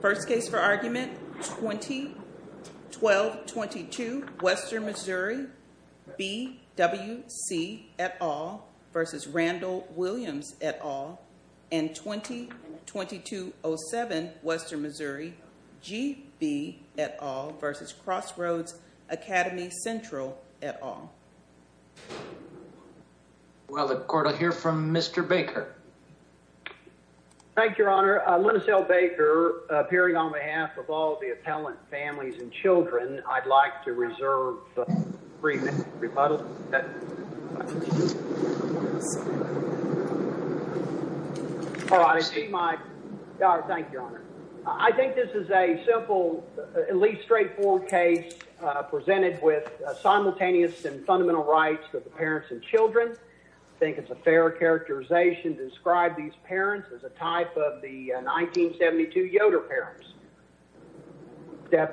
First case for argument, 20-12-22, Western Missouri, B.W.C. et al. v. Randall Williams et al. and 20-22-07, Western Missouri, G.B. et al. v. Crossroads Academy Central et al. Well, the court will hear from Mr. Baker. Thank you, Your Honor. Linus L. Baker, appearing on behalf of all the appellant families and children, I'd like to reserve the remittal. All right, I see my... Thank you, Your Honor. I think this is a simple, at least straightforward case presented with simultaneous and fundamental rights for the parents and children. I think it's a fair characterization to describe these parents as a type of the 1972 Yoder parents.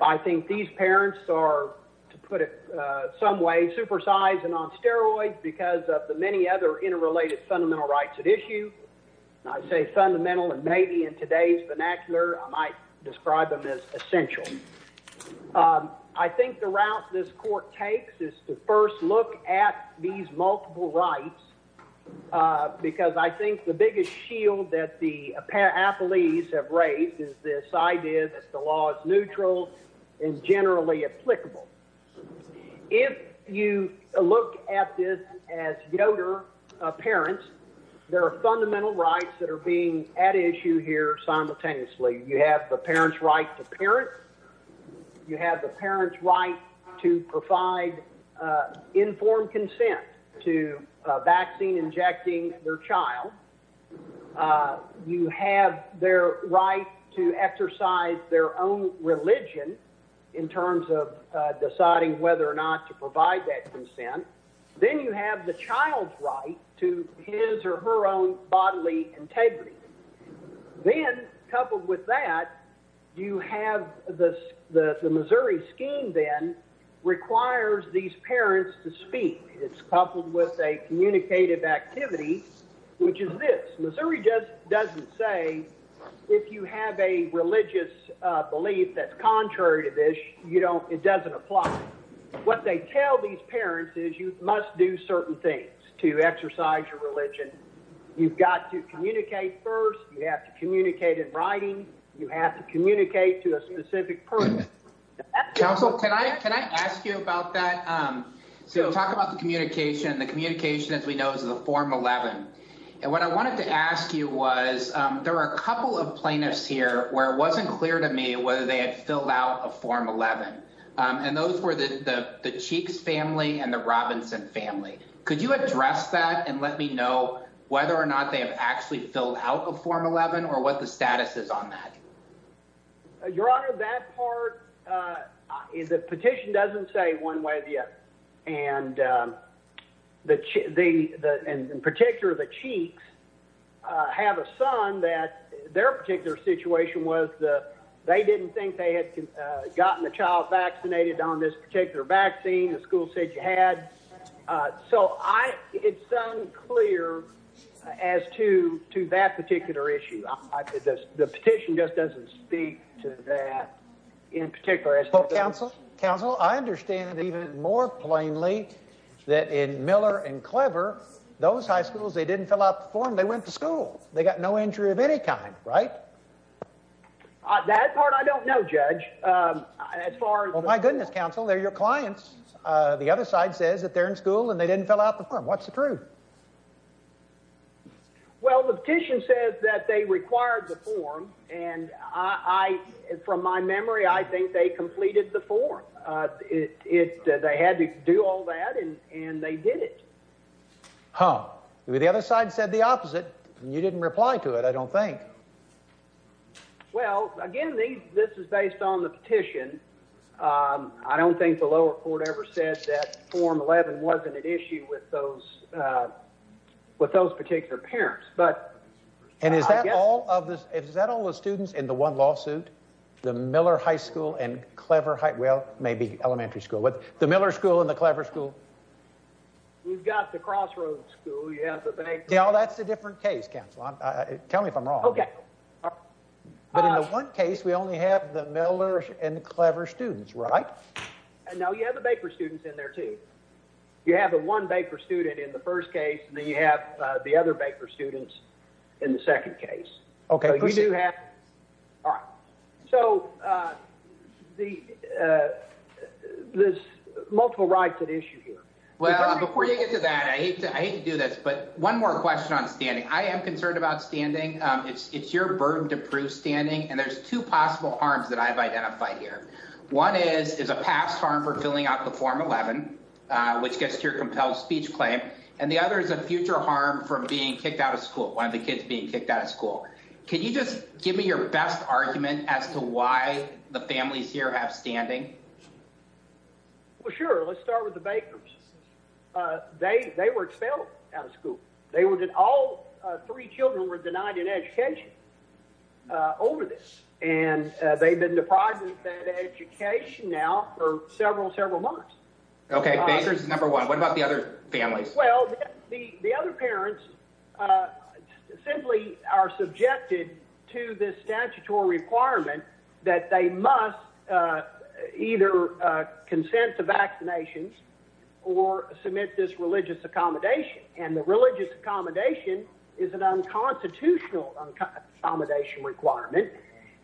I think these parents are, to put it some way, supersized and on steroids because of the many other interrelated fundamental rights at issue. I say fundamental, and maybe in today's vernacular, I might describe them as essential. I think the route this court takes is to first look at these multiple rights because I think the biggest shield that the appellees have raised is this idea that the law is neutral and generally applicable. If you look at this as Yoder parents, there are fundamental rights that are being at issue here simultaneously. You have the parent's right to parent. You have the parent's right to provide informed consent to a vaccine injecting their child. You have their right to exercise their own religion in terms of deciding whether or not to provide that consent. Then you have the child's right to his or her own bodily integrity. Then, coupled with that, you have the Missouri scheme then requires these parents to speak. It's coupled with a communicative activity, which is this. Missouri doesn't say if you have a religious belief that's contrary to this, it doesn't apply. What they tell these parents is you must do certain things to exercise your religion. You've got to communicate first. You have to communicate in writing. You have to communicate to a specific person. Counsel, can I ask you about that? Talk about the communication. The communication, as we know, is the Form 11. What I wanted to ask you was there were a couple of plaintiffs here where it wasn't clear to me whether they had filled out a Form 11. Those were the Cheeks family and the Robinson family. Could you address that and let me know whether or not they have actually filled out a Form 11 or what the status is on that? Your Honor, that part, the petition doesn't say one way or the other. In particular, the Cheeks have a son that their particular situation was they didn't think they had gotten the child vaccinated on this particular vaccine. So it's unclear as to that particular issue. The petition just doesn't speak to that in particular. Counsel, I understand even more plainly that in Miller and Clever, those high schools, they didn't fill out the form. They went to school. They got no injury of any kind, right? That part I don't know, Judge. Well, my goodness, Counsel, they're your clients. The other side says that they're in school and they didn't fill out the form. What's the truth? Well, the petition says that they required the form, and from my memory, I think they completed the form. They had to do all that, and they did it. Huh. The other side said the opposite. You didn't reply to it, I don't think. Well, again, this is based on the petition. I don't think the lower court ever said that form 11 wasn't an issue with those particular parents. And is that all of the students in the one lawsuit, the Miller High School and Clever High School? Well, maybe elementary school. The Miller School and the Clever School? We've got the Crossroads School. That's a different case, Counsel. Tell me if I'm wrong. Okay. But in the one case, we only have the Miller and Clever students, right? No, you have the Baker students in there, too. You have the one Baker student in the first case, and then you have the other Baker students in the second case. Okay. All right. So there's multiple rights at issue here. Well, before you get to that, I hate to do this, but one more question on standing. I am concerned about standing. It's your burden to prove standing, and there's two possible harms that I've identified here. One is a past harm for filling out the form 11, which gets to your compelled speech claim, and the other is a future harm for being kicked out of school, one of the kids being kicked out of school. Can you just give me your best argument as to why the families here have standing? Well, sure. Let's start with the Bakers. They were expelled out of school. All three children were denied an education over this, and they've been deprived of that education now for several, several months. Okay. Bakers is number one. What about the other families? Well, the other parents simply are subjected to this statutory requirement that they must either consent to vaccinations or submit this religious accommodation. And the religious accommodation is an unconstitutional accommodation requirement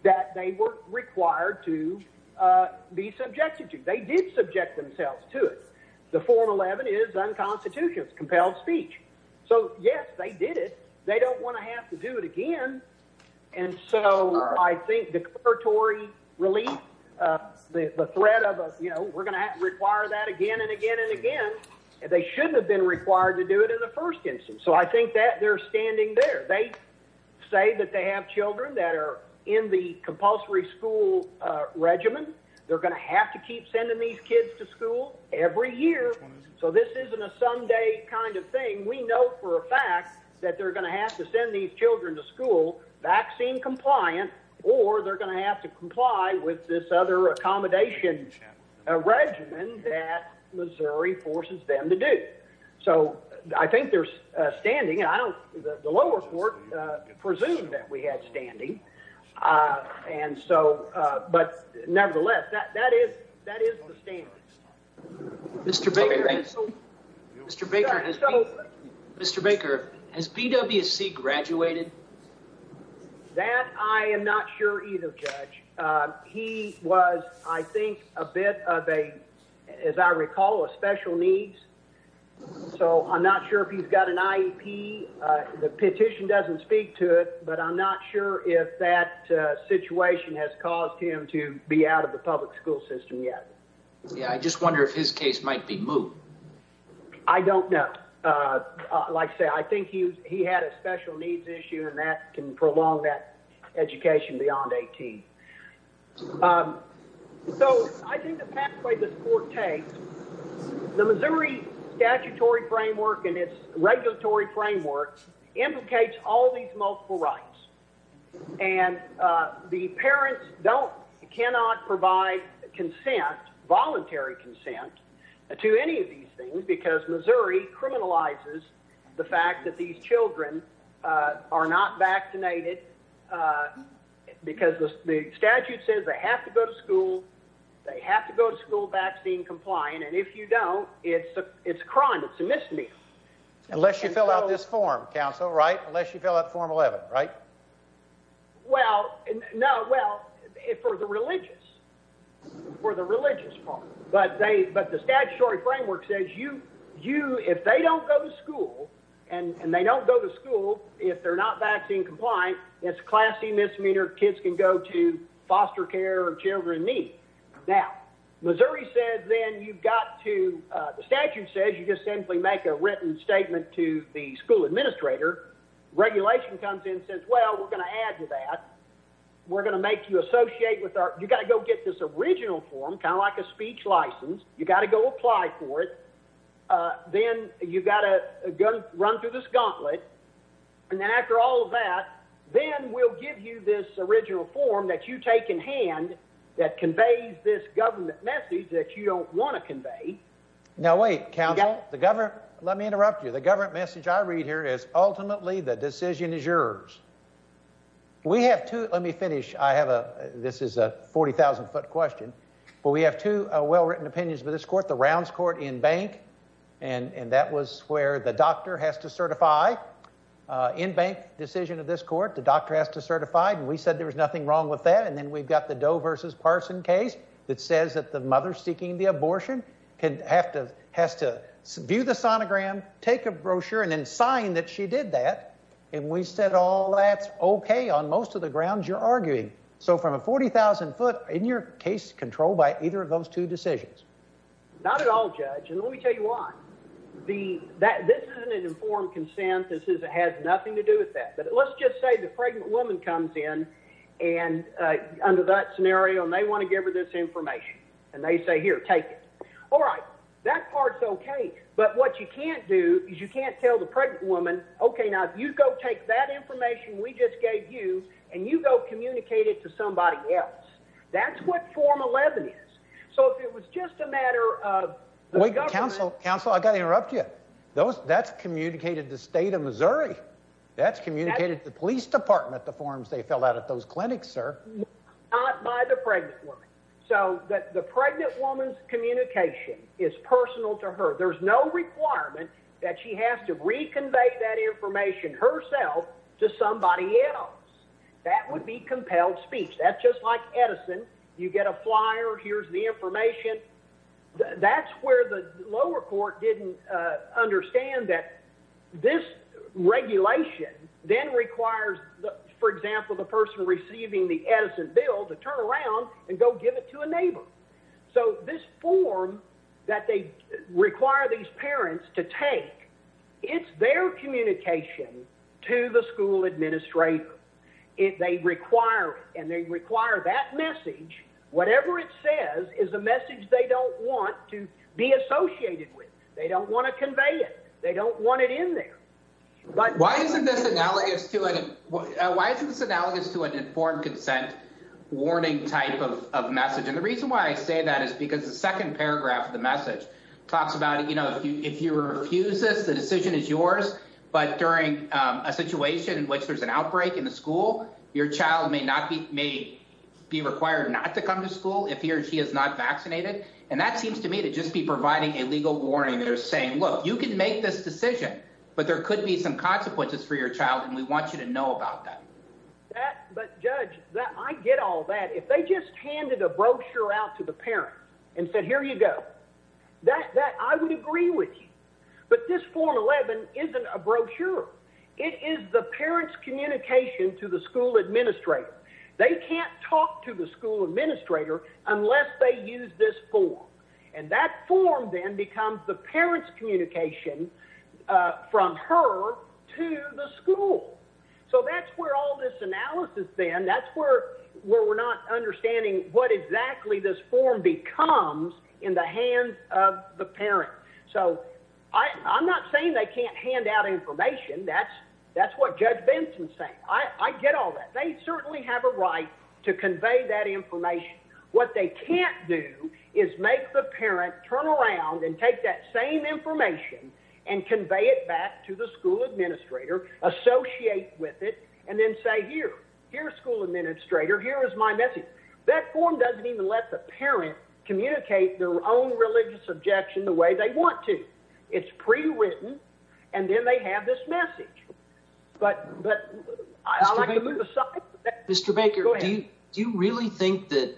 that they were required to be subjected to. They did subject themselves to it. The form 11 is unconstitutional. It's compelled speech. So, yes, they did it. They don't want to have to do it again, and so I think declaratory relief, the threat of, you know, we're going to have to require that again and again and again. They shouldn't have been required to do it in the first instance. So I think that they're standing there. They say that they have children that are in the compulsory school regiment. They're going to have to keep sending these kids to school every year. So this isn't a someday kind of thing. We know for a fact that they're going to have to send these children to school, vaccine compliant, or they're going to have to comply with this other accommodation regiment that Missouri forces them to do. So I think they're standing, and I don't, the lower court presumed that we had standing. And so, but nevertheless, that is the standard. Mr. Baker, has BWC graduated? That I am not sure either, Judge. He was, I think, a bit of a, as I recall, a special needs. So I'm not sure if he's got an IEP. The petition doesn't speak to it, but I'm not sure if that situation has caused him to be out of the public school system yet. Yeah, I just wonder if his case might be moved. I don't know. Like I say, I think he had a special needs issue, and that can prolong that education beyond 18. So I think the pathway this court takes, the Missouri statutory framework and its regulatory framework implicates all these multiple rights. And the parents don't, cannot provide consent, voluntary consent to any of these things, because Missouri criminalizes the fact that these children are not vaccinated because the statute says they have to go to school, they have to go to school vaccine compliant. And if you don't, it's a crime, it's a misdemeanor. Unless you fill out this form, counsel, right? Unless you fill out form 11, right? Well, no. Well, for the religious, for the religious part, but they, but the statutory framework says you, you, if they don't go to school and they don't go to school, if they're not vaccine compliant, it's classy misdemeanor. Kids can go to foster care or children need. Now Missouri said, then you've got to, the statute says, you just simply make a written statement to the school administrator regulation comes in since, well, we're going to add to that. We're going to make you associate with our, you got to go get this original form, kind of like a speech license. You got to go apply for it. Then you've got to run through this gauntlet. And then after all of that, then we'll give you this original form that you take in hand that conveys this government message that you don't want to convey. Now, wait, counsel, the government, let me interrupt you. The government message I read here is ultimately the decision is yours. We have to, let me finish. I have a, this is a 40,000 foot question, but we have two well-written opinions with this court, the rounds court in bank. And that was where the doctor has to certify in bank decision of this court. The doctor has to certify. And we said, there was nothing wrong with that. And then we've got the Doe versus Parson case that says that the mother seeking the abortion can have to, has to view the sonogram, take a brochure and then sign that she did that. So from a 40,000 foot in your case control by either of those two decisions, Not at all judge. And let me tell you why the, that this isn't an informed consent. This is, it has nothing to do with that, but let's just say the pregnant woman comes in and under that scenario and they want to give her this information and they say here, take it. All right, that part's okay. But what you can't do is you can't tell the pregnant woman, okay, now you go take that information. We just gave you and you go communicate it to somebody else. That's what form 11 is. So if it was just a matter of wait council council, I got to interrupt you. Those that's communicated the state of Missouri, that's communicated to the police department, the forms they filled out at those clinics are not by the pregnant woman. So that the pregnant woman's communication is personal to her. There's no requirement that she has to reconvey that information herself to somebody else. That would be compelled speech. That's just like Edison. You get a flyer. Here's the information. That's where the lower court didn't understand that this regulation then requires, for example, the person receiving the Edison bill to turn around and go give it to a neighbor. So this form that they require these parents to take, it's their communication to the school administrator. If they require it and they require that message, whatever it says is a message they don't want to be associated with. They don't want to convey it. They don't want it in there. But why isn't this analogous to it? Why isn't this analogous to an informed consent warning type of message? And the reason why I say that is because the second paragraph of the message talks about, you know, if you, if you refuse this, the decision is yours, but during a situation in which there's an outbreak in the school, your child may not be, may be required not to come to school if he or she is not vaccinated. And that seems to me to just be providing a legal warning. They're saying, look, you can make this decision, but there could be some consequences for your child. And we want you to know about that. But judge that I get all that. If they just handed a brochure out to the parent and said, here you go. That I would agree with you, but this form 11 isn't a brochure. It is the parent's communication to the school administrator. They can't talk to the school administrator unless they use this form. And that form then becomes the parent's communication from her to the school. So that's where all this analysis then, that's where we're not understanding what exactly this form becomes in the hands of the parent. So I, I'm not saying they can't hand out information. That's, that's what judge Benson saying. I get all that. They certainly have a right to convey that information. What they can't do is make the parent turn around and take that same information and convey it back to the school administrator, associate with it, and then say, here, here's school administrator. Here is my message. That form doesn't even let the parent communicate their own religious objection the way they want to. It's pre-written and then they have this message. But, but I like to move aside. Mr. Baker, do you, do you really think that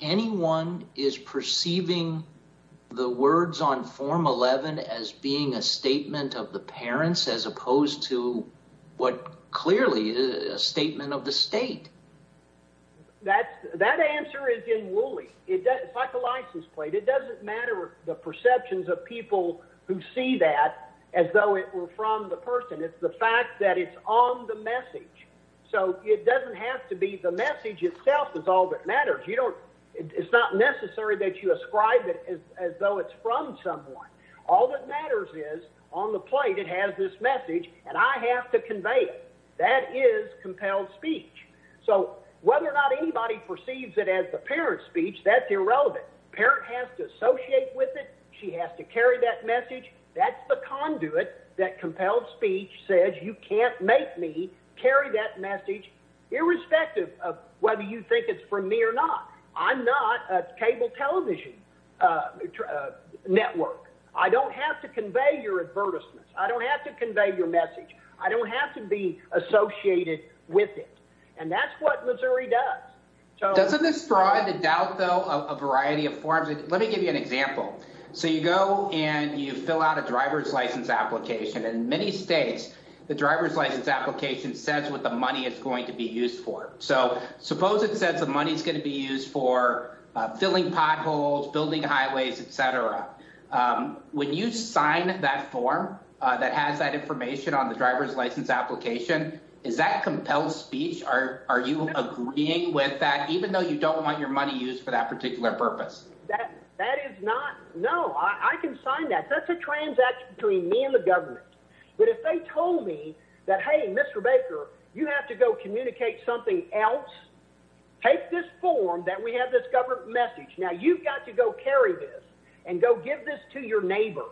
anyone is perceiving the words on form 11 as being a statement of the parents as opposed to what clearly is a statement of the state? That's that answer is in Wooley. It's like a license plate. It doesn't matter. The perceptions of people who see that as though it were from the person. It's the fact that it's on the message. So it doesn't have to be the message itself is all that matters. You don't, it's not necessary that you ascribe it as though it's from someone. All that matters is on the plate. It has this message and I have to convey it. That is compelled speech. So whether or not anybody perceives it as the parent speech, that's irrelevant. Parent has to associate with it. She has to carry that message. That's the conduit that compelled speech says, you can't make me carry that message. Irrespective of whether you think it's from me or not, I'm not a cable television network. I don't have to convey your advertisements. I don't have to convey your message. I don't have to be associated with it. And that's what Missouri does. Doesn't this provide the doubt though, a variety of forms. Let me give you an example. So you go and you fill out a driver's license application in many States. The driver's license application says what the money is going to be used for. So suppose it says the money's going to be used for filling potholes, building highways, et cetera. When you sign that form that has that information on the driver's license application, is that compelled speech? Are you agreeing with that? Even though you don't want your money used for that particular purpose. That is not, no, I can sign that. That's a transaction between me and the government. But if they told me that, Hey, Mr. Baker, you have to go communicate something else. Take this form that we have this government message. Now you've got to go carry this and go give this to your neighbor.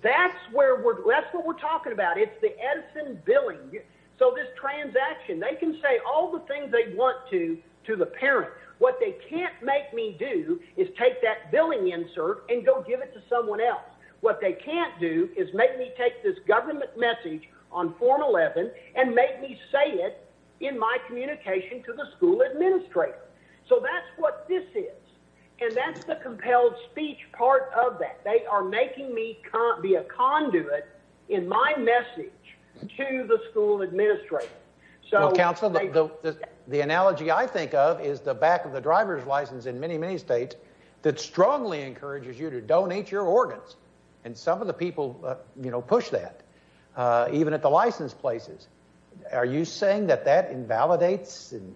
That's where we're, that's what we're talking about. It's the Edison billing. So this transaction, they can say all the things they want to, to the parent. What they can't make me do is take that billing insert and go give it to someone else. What they can't do is make me take this government message on form 11 and make me say it in my communication to the school administrator. So that's what this is. And that's the compelled speech part of that. They are making me be a conduit in my message to the school administrator. So counsel, the analogy I think of is the back of the driver's license in many, many States that strongly encourages you to donate your organs. And some of the people, you know, push that, uh, even at the license places, are you saying that that invalidates in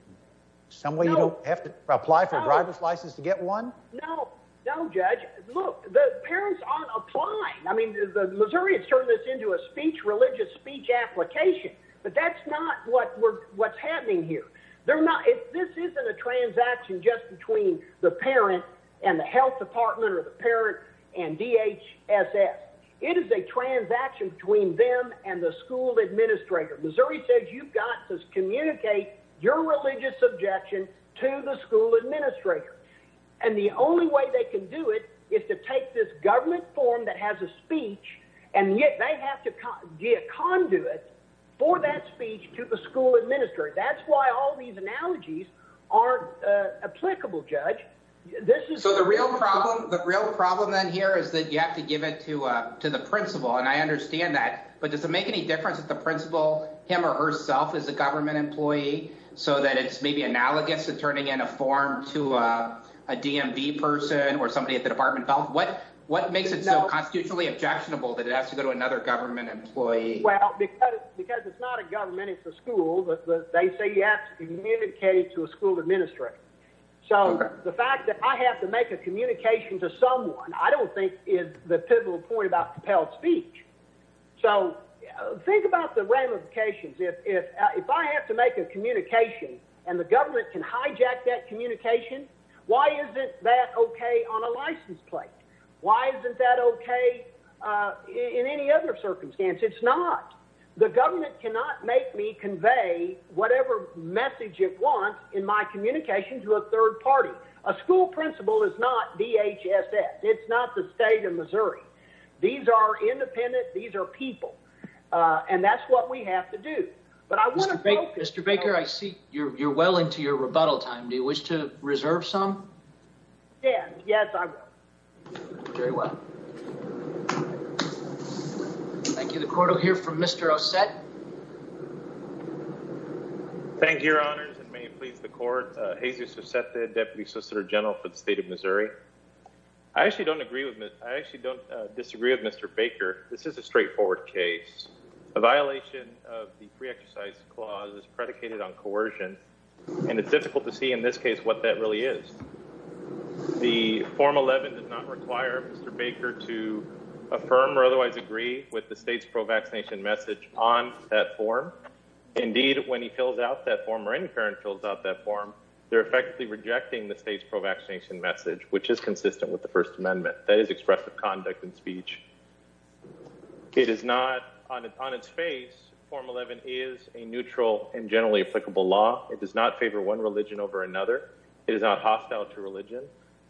some way? You don't have to apply for a driver's license to get one. No, no judge. Look, the parents aren't applying. I mean, the Missouri has turned this into a speech, religious speech application, but that's not what we're, what's happening here. They're not, if this isn't a transaction just between the parent and the health department or the parent and DHSS, It is a transaction between them and the school administrator. Missouri says, you've got to communicate your religious objection to the school administrator. And the only way they can do it is to take this government form that has a speech. And yet they have to get conduit for that speech to the school administrator. That's why all these analogies aren't applicable judge. This is the real problem. The real problem then here is that you have to give it to a, to the principal. And I understand that, but does it make any difference if the principal him or herself is a government employee so that it's maybe analogous to turning in a form to a DMV person or somebody at the department? What, what makes it so constitutionally objectionable that it has to go to another government employee? Well, because it's not a government, it's a school, but they say you have to communicate to a school administrator. So the fact that I have to make a communication to someone, I don't think is the pivotal point about compelled speech. So think about the ramifications. If, if I have to make a communication and the government can hijack that communication, why isn't that okay on a license plate? Why isn't that okay? In any other circumstance, it's not the government cannot make me convey whatever message it wants in my communication to a third party. A school principal is not DHSS. It's not the state of Missouri. These are independent. These are people. And that's what we have to do. But I want to focus. Mr. Baker, I see you're, you're well into your rebuttal time. Do you wish to reserve some? Yeah. Yes, I will. Very well. Thank you. The quarter here from Mr. Osset. Thank you. Thank you, Baker. Thank you, your honors. And may it please the court. He's used to set the deputy solicitor general for the state of Missouri. I actually don't agree with it. I actually don't disagree with Mr. Baker. This is a straightforward case. A violation of the free exercise clause is predicated on coercion. And it's difficult to see in this case, what that really is. The form 11 does not require. Mr. Baker to. Affirm or otherwise agree with the state's pro vaccination message on that form. Indeed, when he fills out that form or any current fills out that form. They're effectively rejecting the state's pro vaccination message, which is consistent with the first amendment. That is expressive conduct and speech. It is not on its face. Form 11 is a neutral and generally applicable law. It does not favor one religion over another. It is not hostile to religion.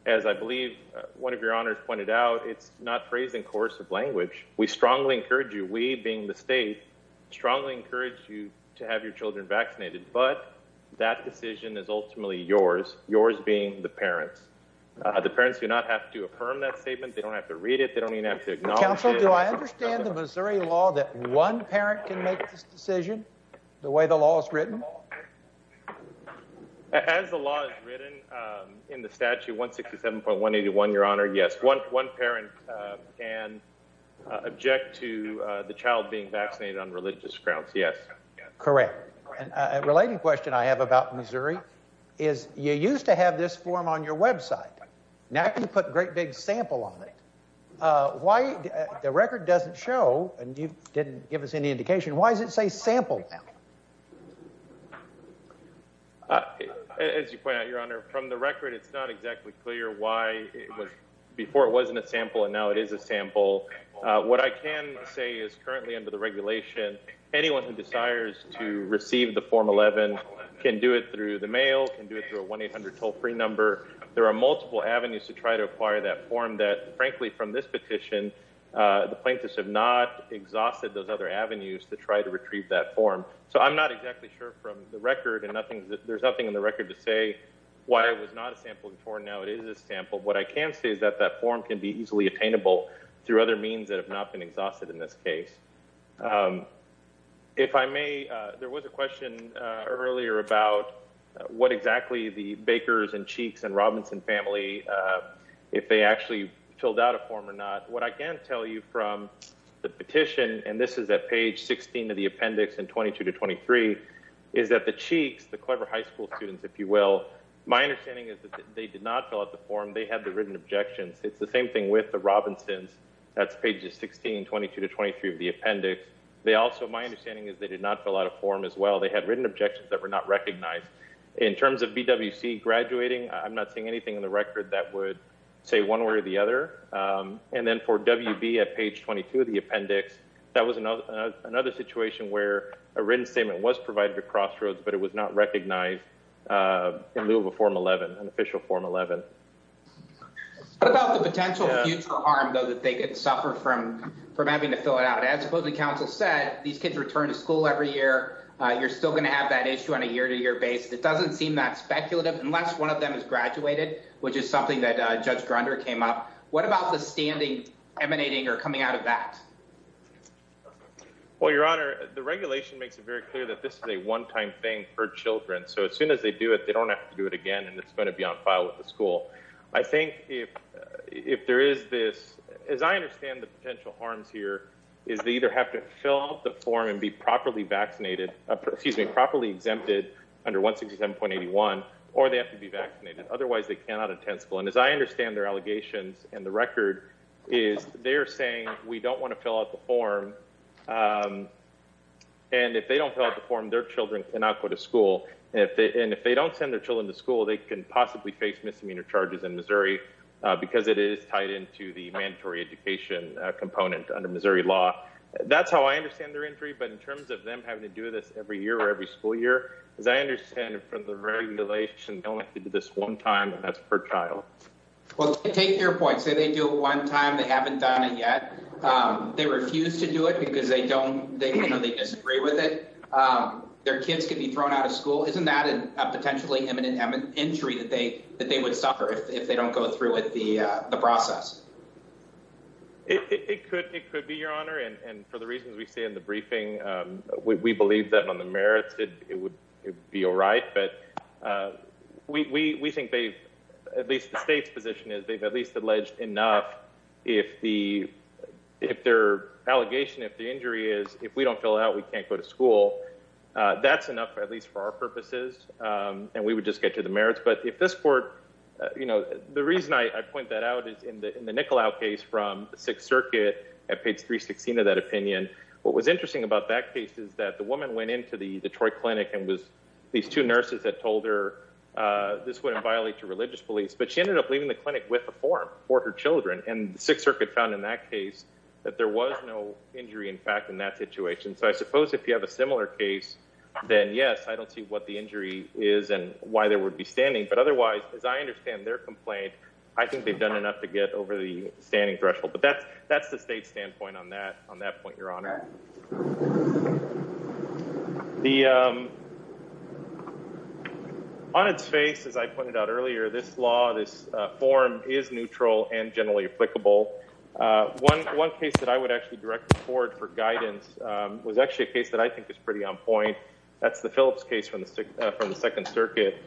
As I believe. One of your honors pointed out. It's not phrasing course of language. We strongly encourage you. We being the state. Strongly encourage you to have your children vaccinated, but that decision is ultimately yours. Yours being the parents. The parents do not have to affirm that statement. They don't have to read it. They don't even have to acknowledge. Do I understand the Missouri law? That one parent can make this decision. The way the law is written. As the law is written. In the statute. One 67.1 81. Your honor. Yes. One parent. Can object to the child being vaccinated on religious grounds. Yes. Correct. Related question I have about Missouri. Is you used to have this form on your website. Now you put great big sample on it. Why the record doesn't show. And you didn't give us any indication. Why does it say sample? As you point out, your honor, from the record, it's not exactly clear. I'm not exactly sure why it was. Before it wasn't a sample and now it is a sample. What I can say is currently under the regulation. Anyone who desires to receive the form 11. Can do it through the mail and do it through a one 800 toll free number. There are multiple avenues to try to acquire that form that frankly, from this petition. The plaintiffs have not exhausted those other avenues to try to So I can't tell you from the petition, for example, what I can say is that that form can be easily attainable. Through other means that have not been exhausted in this case. If I may. There was a question earlier about. What exactly the bakers and cheeks and Robinson family. If they actually filled out a form or not. What I can tell you from. The petition, And this is at page 16 of the appendix and 22 to 23. Is that the cheeks, the clever high school students, if you will. My understanding is that they did not fill out the form. They had the written objections. It's the same thing with the Robinson's. That's pages 16, 22 to 23 of the appendix. They also, my understanding is they did not fill out a form as well. They had written objections that were not recognized. In terms of BWC graduating. I'm not seeing anything in the record that would. Say one way or the other. And then for WB at page 22 of the appendix. That was another. Another situation where a written statement was provided to crossroads, but it was not recognized. In lieu of a form 11 and official form 11. What about the potential future harm though, that they could suffer from. From having to fill it out. As opposed to council said, these kids return to school every year. You're still going to have that issue on a year to year basis. It doesn't seem that speculative unless one of them has graduated, which is something that judge grinder came up. What about the standing emanating or coming out of that? Well, your honor, the regulation makes it very clear that this is a one-time thing for children. So as soon as they do it, they don't have to do it again. And it's going to be on file with the school. I think if, if there is this. As I understand the potential harms here. Is the either have to fill out the form and be properly vaccinated. Excuse me, properly exempted. Under one 67.81. Or they have to be vaccinated. Otherwise they cannot attend school. And as I understand their allegations and the record. Is they're saying we don't want to fill out the form. And if they don't fill out the form, their children cannot go to school. And if they, and if they don't send their children to school, they can possibly face misdemeanor charges in Missouri. Because it is tied into the mandatory education component under Missouri law. That's how I understand their injury, but in terms of them having to do this every year or every school year, as I understand it from the regulation, they only have to do this one time and that's per child. Well, take your point. Say they do it one time. They haven't done it yet. They refuse to do it because they don't, they, you know, they disagree with it. Their kids can be thrown out of school. Isn't that a potentially imminent injury that they, that they would suffer if they don't go through with the, the process. It could, it could be your honor. And for the reasons we say in the briefing, we believe that on the merits, it would be all right, but we, we, we think they've at least the state's position is they've at least alleged enough. If the, if their allegation, if the injury is, if we don't fill out, we can't go to school. That's enough, at least for our purposes. And we would just get to the merits, but if this court, you know, the reason I point that out is in the, the nickel out case from the sixth circuit at page three 16 of that opinion, what was interesting about that case is that the woman went into the Detroit clinic and was these two nurses that told her this wouldn't violate your religious beliefs, but she ended up leaving the clinic with a form for her children. And the sixth circuit found in that case that there was no injury in fact, in that situation. So I suppose if you have a similar case, then yes, I don't see what the injury is and why there would be standing, but otherwise, as I understand their complaint, I think they've done enough to get over the standing threshold, but that's, that's the state standpoint on that, on that point, your honor. The on its face, as I pointed out earlier, this law, this form is neutral and generally applicable. One, one case that I would actually direct the court for guidance was actually a case that I think is pretty on point. That's the Phillips case from the, from the second circuit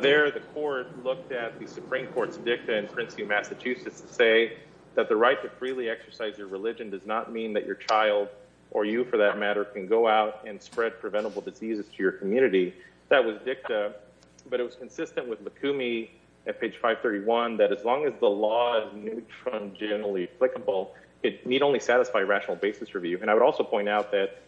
there, the court looked at the Supreme court's dicta in Princeton, Massachusetts to say that the right to freely exercise your religion does not mean that your child or you for that matter can go out and spread preventable diseases to your community. That was dicta, but it was consistent with the Kumi at page five 31, that as long as the law is neutral and generally applicable, it need only satisfy rational basis review. And I would also point out that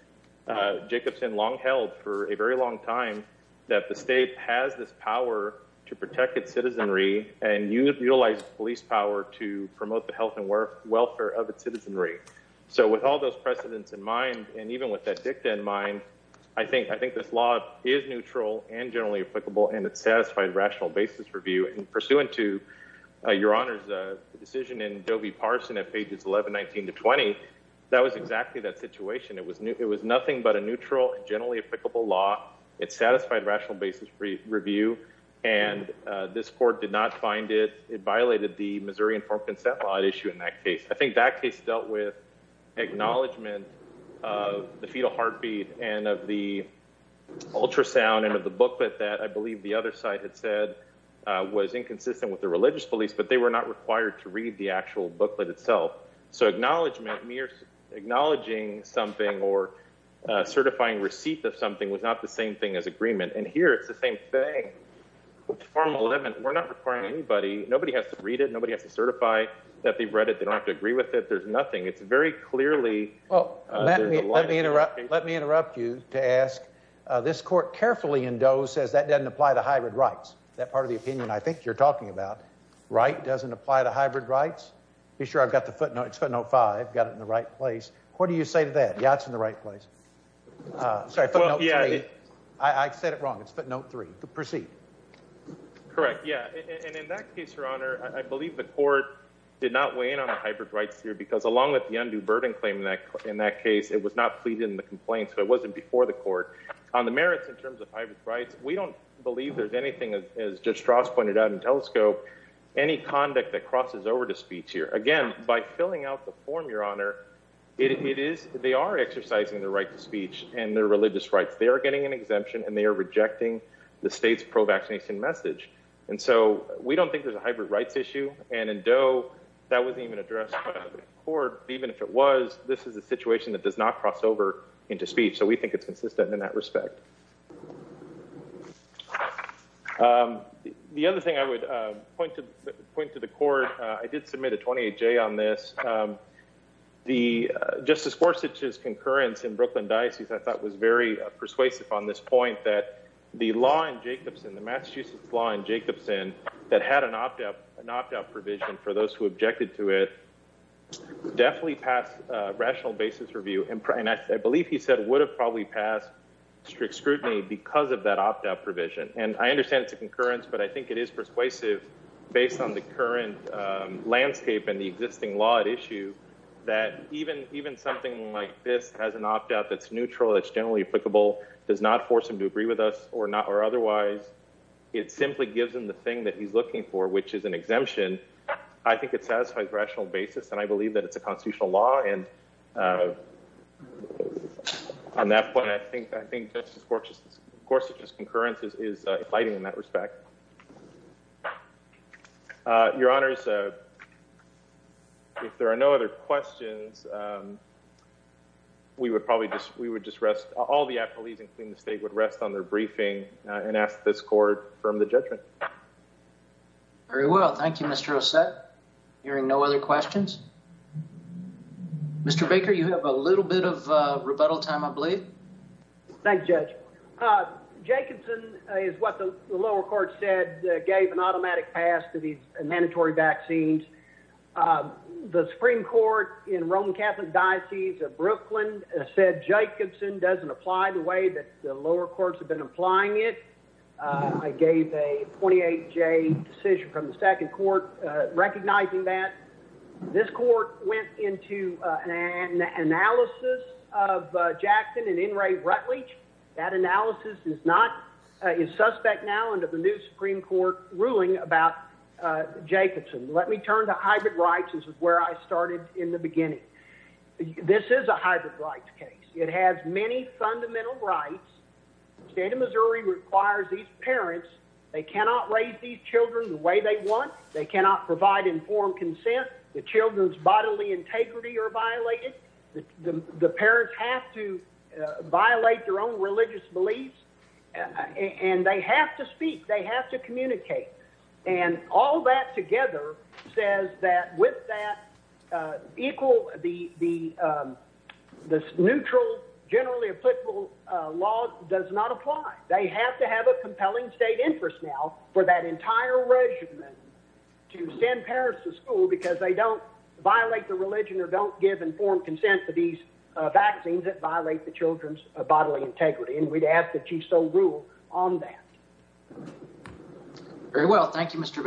Jacobson long held for a very long time that the state has this power to protect its citizenry and you utilize police power to promote the health and work welfare of its citizenry. So with all those precedents in mind, and even with that dicta in mind, I think, I think this law is neutral and generally applicable and it's satisfied rational basis review and pursuant to your honor's decision in Joby Parson at pages 11, 19 to 20, that was exactly that situation. It was new. It was nothing but a neutral, generally applicable law. It's satisfied rational basis review and this court did not find it. It violated the Missouri informed consent law issue in that case. I think that case dealt with acknowledgement of the fetal heartbeat and of the ultrasound and of the booklet that I believe the other side had said was inconsistent with the religious police, but they were not required to read the actual booklet itself. So acknowledgement mere acknowledging something or certifying receipt of something was not the same thing as agreement. And here it's the same thing. We're not requiring anybody. Nobody has to read it. Nobody has to certify that they've read it. They don't have to agree with it. There's nothing. It's very clearly. Well, let me, let me interrupt. Let me interrupt you to ask this court carefully and does says that doesn't apply to hybrid rights. That part of the opinion. I think you're talking about right. Doesn't apply to hybrid rights. Be sure I've got the footnotes, footnote five, got it in the right place. What do you say to that? Yeah, it's in the right place. Sorry. I said it wrong. It's footnote three to proceed. Correct. Yeah. And in that case, your honor, I believe the court did not weigh in on the hybrid rights here because along with the undue burden claim in that case, it was not pleaded in the complaint. So it wasn't before the court on the merits in terms of hybrid rights. We don't believe there's anything as just Strauss pointed out in telescope, any conduct that crosses over to speech here again, by filling out the form, your honor, it is, they are exercising the right to speech and their religious rights. They are getting an exemption and they are rejecting the state's pro vaccination message. And so we don't think there's a hybrid rights issue. And in dough, that wasn't even addressed court, even if it was, this is a situation that does not cross over into speech. So we think it's consistent in that respect. The other thing I would point to point to the court, I did submit a 28 J on this. The justice for such as concurrence in Brooklyn diocese, I thought was very persuasive on this point that the law in Jacobson, the Massachusetts law in Jacobson that had an opt out, an opt out provision for those who objected to it definitely passed a rational basis review. And I believe he said would have probably passed strict scrutiny because of that opt out provision. And I understand it's a concurrence, but I think it is persuasive based on the current landscape and the existing law at issue that even, even something like this has an opt out that's neutral, that's generally applicable does not force them to agree with us or not, or otherwise it simply gives them the thing that he's looking for, which is an exemption. I think it satisfies rational basis. And I believe that it's a constitutional law. And on that point, I think, I think just as gorgeous, of course, it just concurrence is fighting in that respect. Your honors. If there are no other questions, we would probably just, we would just rest. All the appellees and clean the state would rest on their briefing and ask this court from the judgment. Very well. Thank you, Mr. Ossett hearing no other questions. Mr. Baker, you have a little bit of a rebuttal time. I believe. Thanks judge. Jacobson is what the lower court said, gave an automatic pass to these mandatory vaccines. The Supreme court in Roman Catholic diocese of Brooklyn said Jacobson doesn't apply the way that the lower courts have been applying it. I gave a 28 J decision from the second court, recognizing that this court went into an analysis of Jackson and in Ray Rutledge. That analysis is not a suspect now under the new Supreme court ruling about Jacobson. Let me turn to hybrid rights. This is where I started in the beginning. This is a hybrid rights case. It has many fundamental rights. State of Missouri requires these parents. They cannot raise these children the way they want. They cannot provide informed consent. The children's bodily integrity are violated. The parents have to violate their own religious beliefs and they have to speak. They have to communicate. And all that together says that with that equal, the, the neutral generally applicable law does not apply. They have to have a compelling state interest now for that entire regiment to send parents to school because they don't violate the religion or don't give informed consent for these vaccines that violate the children's bodily integrity. And we'd ask that you so rule on that. Very well. Thank you, Mr.